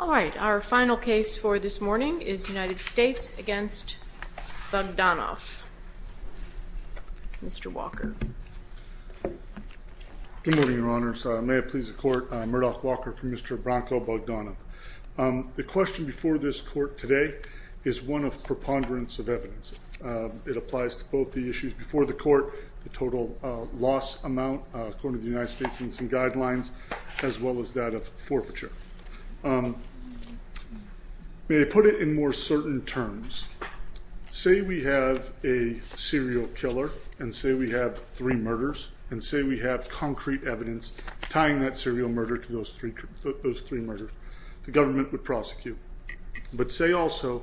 All right, our final case for this morning is United States v. Bogdanov. Mr. Walker. Good morning, Your Honors. May it please the Court, Murdoch Walker for Mr. Branko Bogdanov. The question before this Court today is one of preponderance of evidence. It applies to both the issues before the Court, the total loss amount according to the United States Incident Guidelines, as well as that of forfeiture. May I put it in more certain terms? Say we have a serial killer and say we have three murders and say we have concrete evidence tying that serial murder to those three murders, the government would prosecute. But say also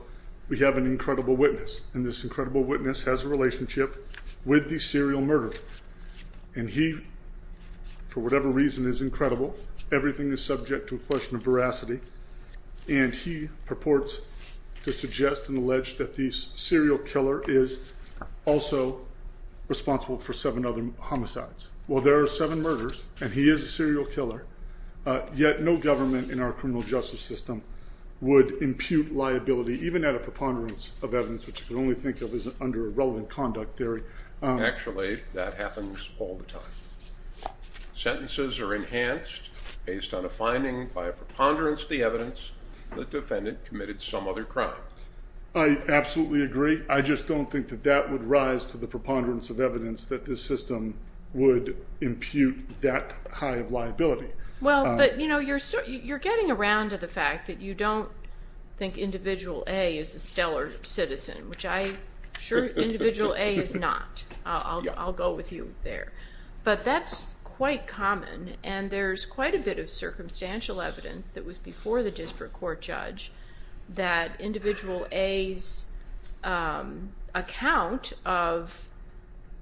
we have an incredible witness, and this incredible witness has a relationship with the serial murderer. And he, for whatever reason, is incredible. Everything is subject to a question of veracity. And he purports to suggest and allege that the serial killer is also responsible for seven other homicides. Well, there are seven murders, and he is a serial killer, yet no government in our criminal justice system would impute liability, even at a preponderance of evidence, which you can only think of as under a relevant conduct theory. Actually, that happens all the time. Sentences are enhanced based on a finding by a preponderance of the evidence that the defendant committed some other crime. I absolutely agree. I just don't think that that would rise to the preponderance of evidence that this system would impute that high of liability. Well, but you're getting around to the fact that you don't think Individual A is a stellar citizen, which I'm sure Individual A is not. I'll go with you there. But that's quite common, and there's quite a bit of circumstantial evidence that was before the district court judge that Individual A's account of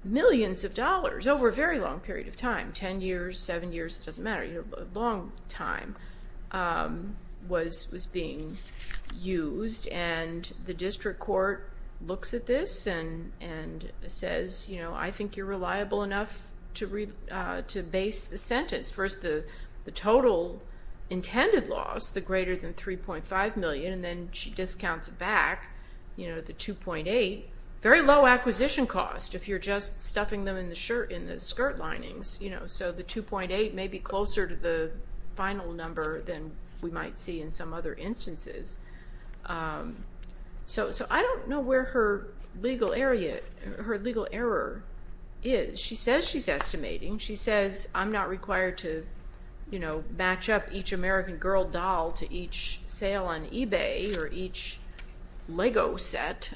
millions of dollars over a very long period of time, 10 years, 7 years, it doesn't matter, a long time, was being used. The district court looks at this and says, I think you're reliable enough to base the sentence. First, the total intended loss, the greater than 3.5 million, and then she discounts it back, the 2.8, very low acquisition cost if you're just stuffing them in the skirt linings. So the 2.8 may be closer to the final number than we might see in some other instances. So I don't know where her legal error is. She says she's estimating. She says, I'm not required to match up each American Girl doll to each sale on eBay or each Lego set.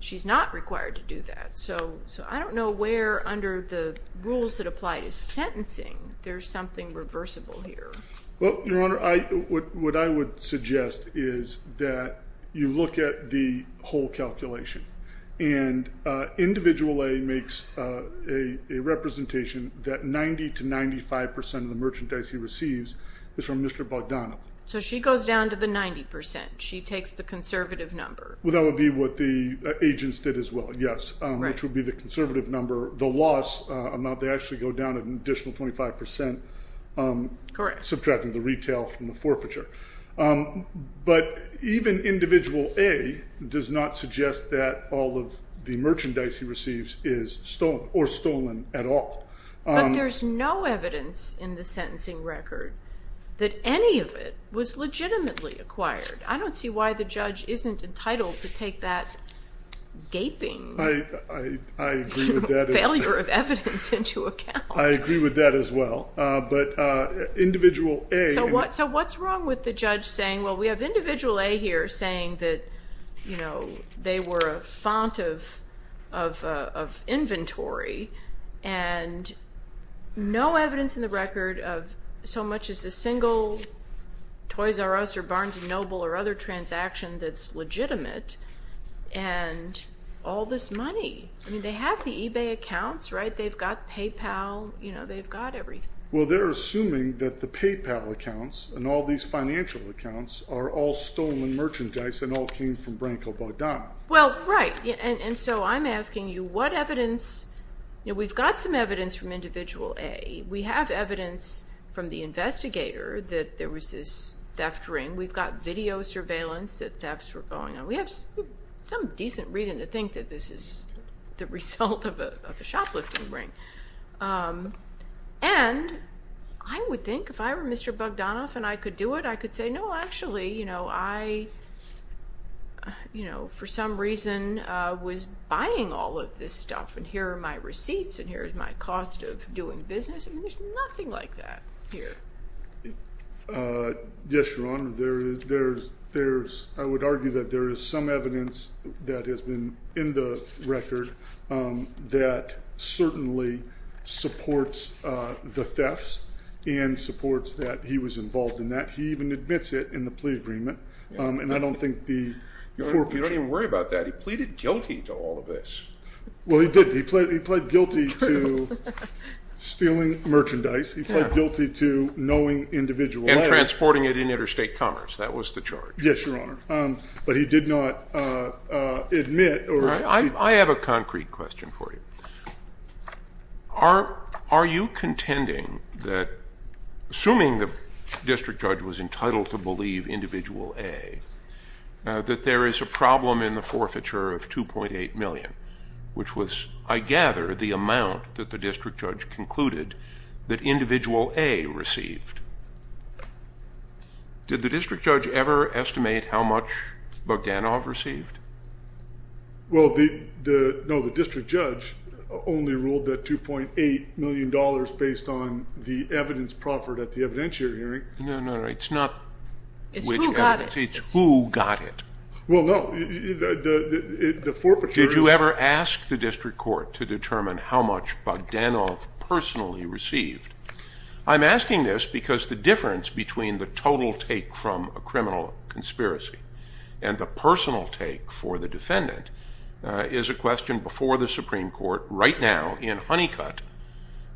She's not required to do that. So I don't know where, under the rules that apply to sentencing, there's something reversible here. Well, Your Honor, what I would suggest is that you look at the whole calculation, and Individual A makes a representation that 90 to 95% of the merchandise he receives is from Mr. Bogdanoff. So she goes down to the 90%. She takes the conservative number. Well, that would be what the agents did as well, yes, which would be the conservative number. The loss amount, they actually go down an additional 25%. Correct. Subtracting the retail from the forfeiture. But even Individual A does not suggest that all of the merchandise he receives is stolen or stolen at all. But there's no evidence in the sentencing record that any of it was legitimately acquired. I don't see why the judge isn't entitled to take that gaping failure of evidence into account. I agree with that as well. But Individual A... And no evidence in the record of so much as a single Toys R Us or Barnes & Noble or other transaction that's legitimate, and all this money. I mean, they have the eBay accounts, right? They've got PayPal. You know, they've got everything. Well, they're assuming that the PayPal accounts and all these financial accounts are all stolen merchandise and all came from Branko Bogdanoff. Well, right. And so I'm asking you what evidence... We've got some evidence from Individual A. We have evidence from the investigator that there was this theft ring. We've got video surveillance that thefts were going on. We have some decent reason to think that this is the result of a shoplifting ring. And I would think if I were Mr. Bogdanoff and I could do it, I could say, no, actually, you know, I, you know, for some reason, was buying all of this stuff. And here are my receipts. And here is my cost of doing business. And there's nothing like that here. Yes, Your Honor. There's, I would argue that there is some evidence that has been in the record that certainly supports the thefts and supports that he was involved in that. He even admits it in the plea agreement. And I don't think the... You don't even worry about that. He pleaded guilty to all of this. Well, he did. He pled guilty to stealing merchandise. He pled guilty to knowing Individual A. And transporting it in interstate commerce. That was the charge. Yes, Your Honor. But he did not admit or... Which was, I gather, the amount that the district judge concluded that Individual A received. Did the district judge ever estimate how much Bogdanoff received? Well, no, the district judge only ruled that $2.8 million based on the evidence proffered at the evidentiary hearing. No, no, no. It's not which evidence. It's who got it. Well, no. The forfeiture... Did you ever ask the district court to determine how much Bogdanoff personally received? I'm asking this because the difference between the total take from a criminal conspiracy and the personal take for the defendant is a question before the Supreme Court right now in Honeycutt,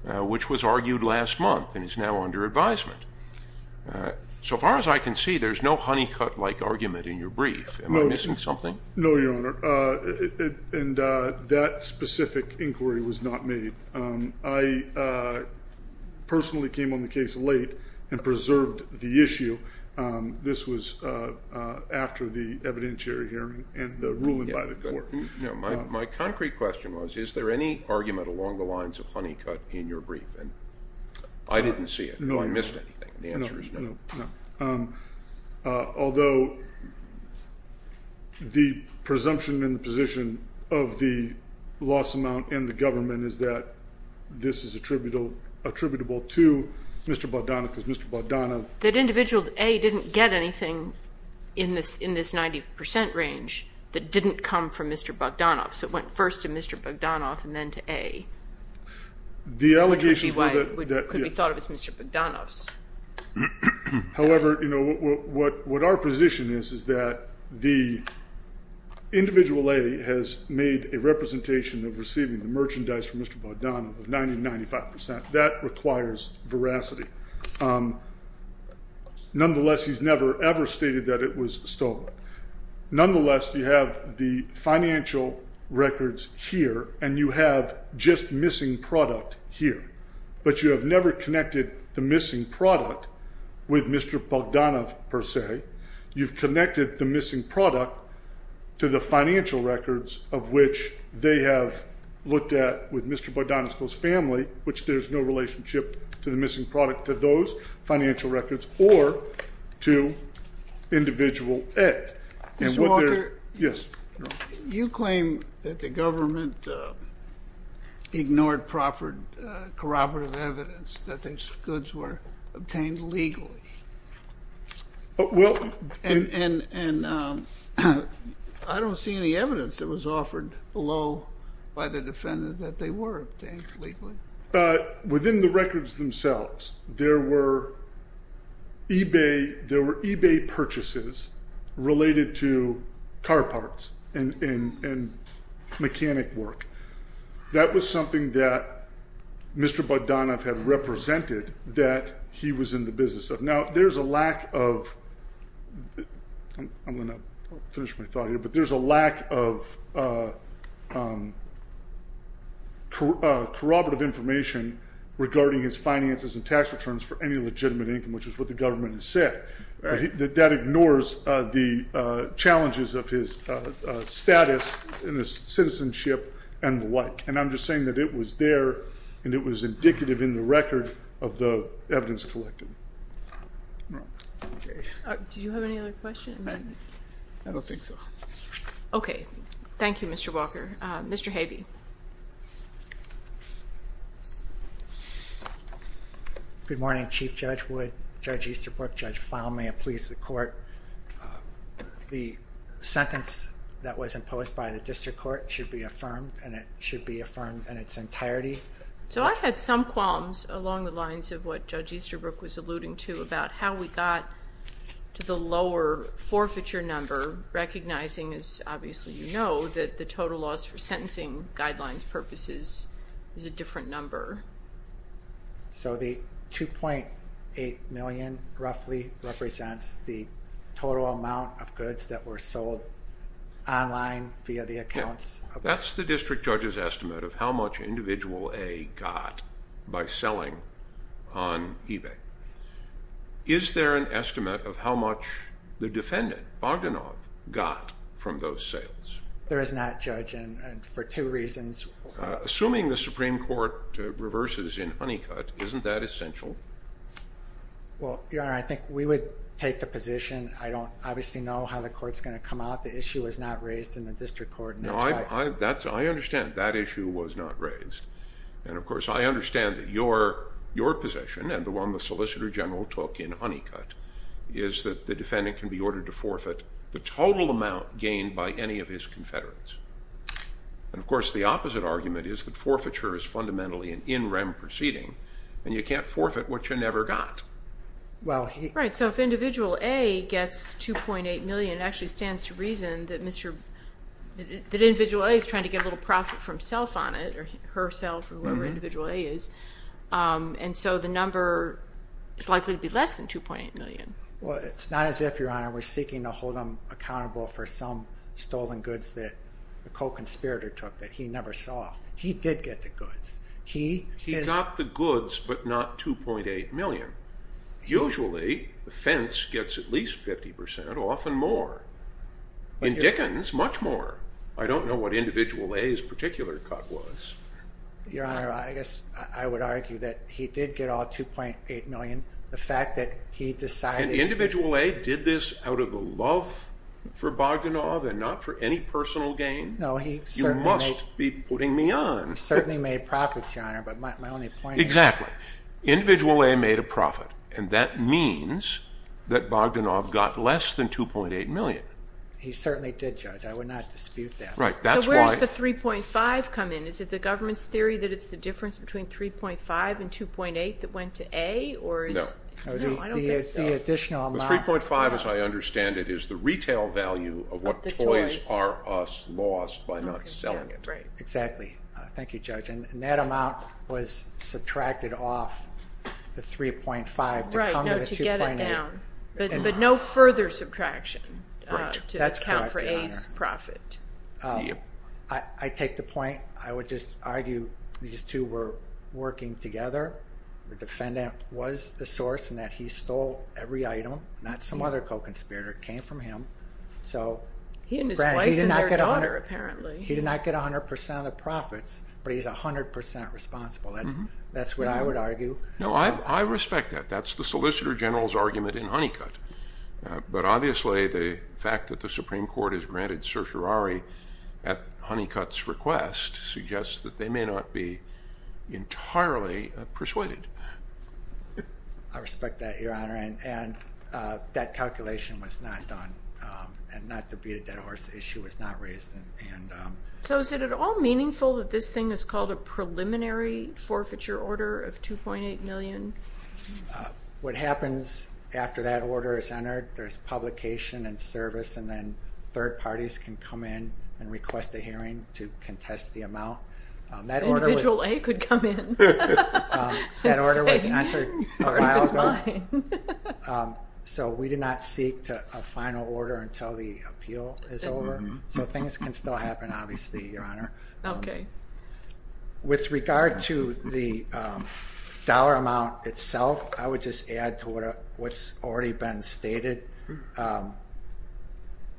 which was argued last month and is now under advisement. So far as I can see, there's no Honeycutt-like argument in your brief. Am I missing something? No, Your Honor. And that specific inquiry was not made. I personally came on the case late and preserved the issue. This was after the evidentiary hearing and the ruling by the court. My concrete question was, is there any argument along the lines of Honeycutt in your brief? I didn't see it. I missed anything. The answer is no. Although the presumption in the position of the loss amount in the government is that this is attributable to Mr. Bogdanoff because Mr. Bogdanoff... That individual A didn't get anything in this 90% range that didn't come from Mr. Bogdanoff. So it went first to Mr. Bogdanoff and then to A. Which could be thought of as Mr. Bogdanoff's. However, what our position is, is that the individual A has made a representation of receiving the merchandise from Mr. Bogdanoff of 90-95%. That requires veracity. Nonetheless, he's never ever stated that it was stolen. Nonetheless, you have the financial records here and you have just missing product here. But you have never connected the missing product with Mr. Bogdanoff per se. You've connected the missing product to the financial records of which they have looked at with Mr. Bogdanoff's family. Which there's no relationship to the missing product to those financial records or to individual A. Mr. Walker, you claim that the government ignored proper corroborative evidence that these goods were obtained legally. And I don't see any evidence that was offered below by the defendant that they were obtained legally. Within the records themselves, there were eBay purchases related to car parts and mechanic work. That was something that Mr. Bogdanoff had represented that he was in the business of. Now, there's a lack of, I'm going to finish my thought here. But there's a lack of corroborative information regarding his finances and tax returns for any legitimate income, which is what the government has said. But that ignores the challenges of his status and his citizenship and the like. And I'm just saying that it was there and it was indicative in the record of the evidence collected. Do you have any other questions? I don't think so. Okay. Thank you, Mr. Walker. Mr. Havey. Good morning, Chief Judge Wood, Judge Easterbrook, Judge Fahl. May it please the Court, the sentence that was imposed by the district court should be affirmed and it should be affirmed in its entirety. So I had some qualms along the lines of what Judge Easterbrook was alluding to about how we got to the lower forfeiture number, recognizing, as obviously you know, that the total loss for sentencing guidelines purposes is a different number. So the $2.8 million roughly represents the total amount of goods that were sold online via the accounts. That's the district judge's estimate of how much individual A got by selling on eBay. Is there an estimate of how much the defendant, Bogdanov, got from those sales? There is not, Judge, and for two reasons. Assuming the Supreme Court reverses in Honeycutt, isn't that essential? Well, Your Honor, I think we would take the position. I don't obviously know how the court's going to come out. The issue was not raised in the district court. No, I understand that issue was not raised. And, of course, I understand that your position, and the one the Solicitor General took in Honeycutt, is that the defendant can be ordered to forfeit the total amount gained by any of his confederates. And, of course, the opposite argument is that forfeiture is fundamentally an in rem proceeding, and you can't forfeit what you never got. Right, so if individual A gets $2.8 million, it actually stands to reason that individual A is trying to get a little profit for himself on it, or herself, or whoever individual A is. And so the number is likely to be less than $2.8 million. Well, it's not as if, Your Honor, we're seeking to hold him accountable for some stolen goods that the co-conspirator took that he never saw. He did get the goods. He got the goods, but not $2.8 million. Usually, the fence gets at least 50%, often more. In Dickens, much more. I don't know what individual A's particular cut was. Your Honor, I guess I would argue that he did get all $2.8 million. The fact that he decided... And individual A did this out of love for Bogdanov and not for any personal gain? No, he certainly... You must be putting me on. He certainly made profits, Your Honor, but my only point is... Exactly. Individual A made a profit, and that means that Bogdanov got less than $2.8 million. He certainly did, Judge. I would not dispute that. Right. That's why... So where does the $3.5 come in? Is it the government's theory that it's the difference between $3.5 and $2.8 that went to A, or is... No. No, I don't think so. The additional amount... The $3.5, as I understand it, is the retail value of what toys are us lost by not selling it. Exactly. Thank you, Judge. And that amount was subtracted off the $3.5 to come to the $2.8. But no further subtraction to account for A's profit. I take the point. I would just argue these two were working together. The defendant was the source in that he stole every item, not some other co-conspirator. It came from him. He and his wife and their daughter, apparently. He did not get 100% of the profits, but he's 100% responsible. That's what I would argue. No, I respect that. That's the Solicitor General's argument in Honeycutt. But obviously the fact that the Supreme Court has granted certiorari at Honeycutt's request suggests that they may not be entirely persuaded. I respect that, Your Honor. And that calculation was not done. And not to beat a dead horse, the issue was not raised. So is it at all meaningful that this thing is called a preliminary forfeiture order of $2.8 million? What happens after that order is entered, there's publication and service, and then third parties can come in and request a hearing to contest the amount. Individual A could come in. That order was entered a while ago. So we did not seek a final order until the appeal is over. So things can still happen, obviously, Your Honor. Okay. With regard to the dollar amount itself, I would just add to what's already been stated.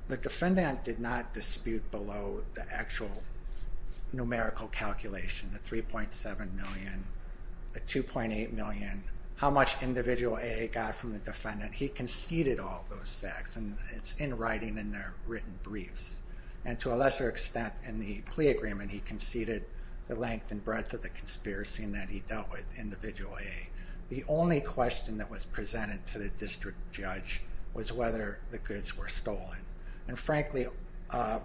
The defendant did not dispute below the actual numerical calculation, the $3.7 million, the $2.8 million, how much individual A got from the defendant. He conceded all of those facts, and it's in writing in their written briefs. And to a lesser extent in the plea agreement, he conceded the length and breadth of the conspiracy that he dealt with, individual A. The only question that was presented to the district judge was whether the goods were stolen. And frankly, all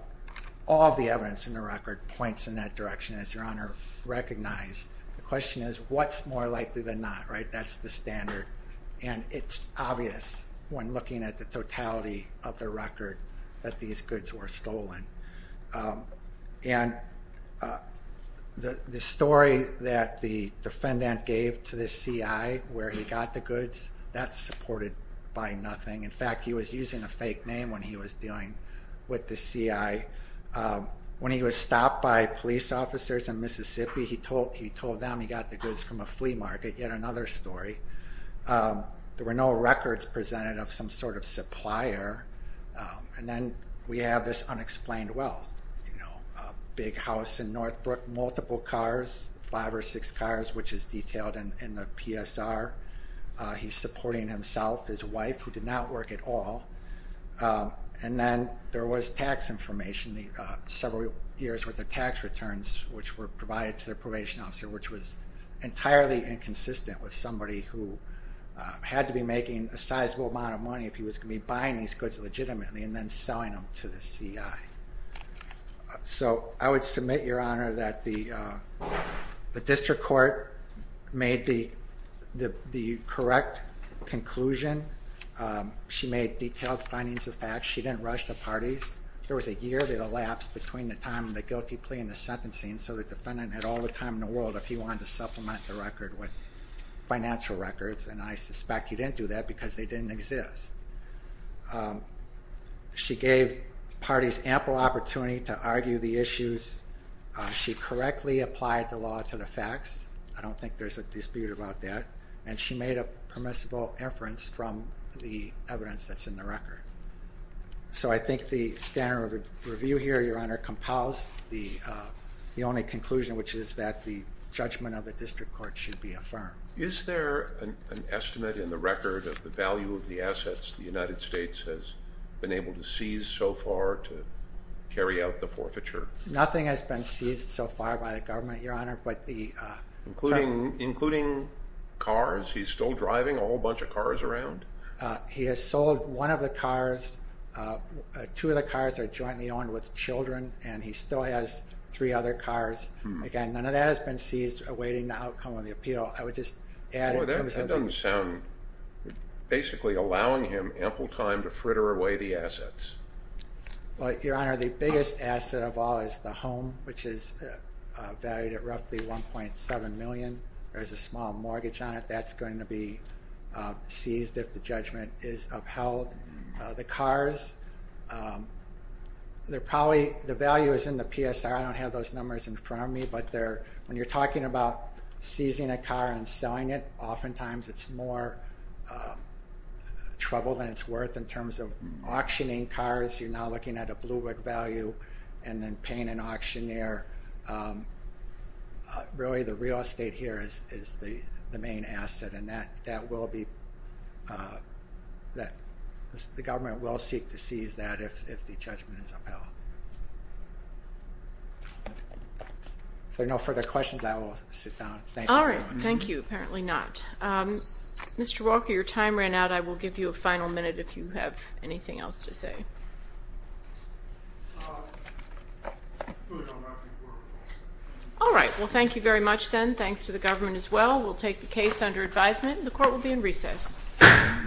of the evidence in the record points in that direction, as Your Honor recognized. The question is, what's more likely than not, right? That's the standard. And it's obvious when looking at the totality of the record that these goods were stolen. And the story that the defendant gave to the CI where he got the goods, that's supported by nothing. In fact, he was using a fake name when he was dealing with the CI. When he was stopped by police officers in Mississippi, he told them he got the goods from a flea market. Yet another story. There were no records presented of some sort of supplier. And then we have this unexplained wealth. Big house in Northbrook, multiple cars, five or six cars, which is detailed in the PSR. He's supporting himself, his wife, who did not work at all. And then there was tax information, several years' worth of tax returns, which were provided to their probation officer, which was entirely inconsistent with somebody who had to be making a sizable amount of money if he was going to be buying these goods legitimately and then selling them to the CI. So I would submit, Your Honor, that the district court made the correct conclusion. She made detailed findings of facts. She didn't rush the parties. There was a year that elapsed between the time of the guilty plea and the sentencing, so the defendant had all the time in the world if he wanted to supplement the record with financial records, and I suspect he didn't do that because they didn't exist. She gave parties ample opportunity to argue the issues. She correctly applied the law to the facts. I don't think there's a dispute about that. And she made a permissible inference from the evidence that's in the record. So I think the standard of review here, Your Honor, compels the only conclusion, which is that the judgment of the district court should be affirmed. Is there an estimate in the record of the value of the assets the United States has been able to seize so far to carry out the forfeiture? Nothing has been seized so far by the government, Your Honor. Including cars? He's still driving a whole bunch of cars around. He has sold one of the cars. Two of the cars are jointly owned with children, and he still has three other cars. Again, none of that has been seized awaiting the outcome of the appeal. I would just add in terms of the- That doesn't sound-basically allowing him ample time to fritter away the assets. Well, Your Honor, the biggest asset of all is the home, which is valued at roughly $1.7 million. There's a small mortgage on it. That's going to be seized if the judgment is upheld. The cars, they're probably-the value is in the PSR. I don't have those numbers in front of me, but when you're talking about seizing a car and selling it, oftentimes it's more trouble than it's worth in terms of auctioning cars. You're now looking at a blue brick value and then paying an auctioneer. Really, the real estate here is the main asset, and that will be-the government will seek to seize that if the judgment is upheld. If there are no further questions, I will sit down. Thank you, Your Honor. All right. Thank you. Apparently not. Mr. Walker, your time ran out. I will give you a final minute if you have anything else to say. Well, Your Honor, I think we're all set. All right. Well, thank you very much then. Thanks to the government as well. We'll take the case under advisement. The court will be in recess. Thank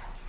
you.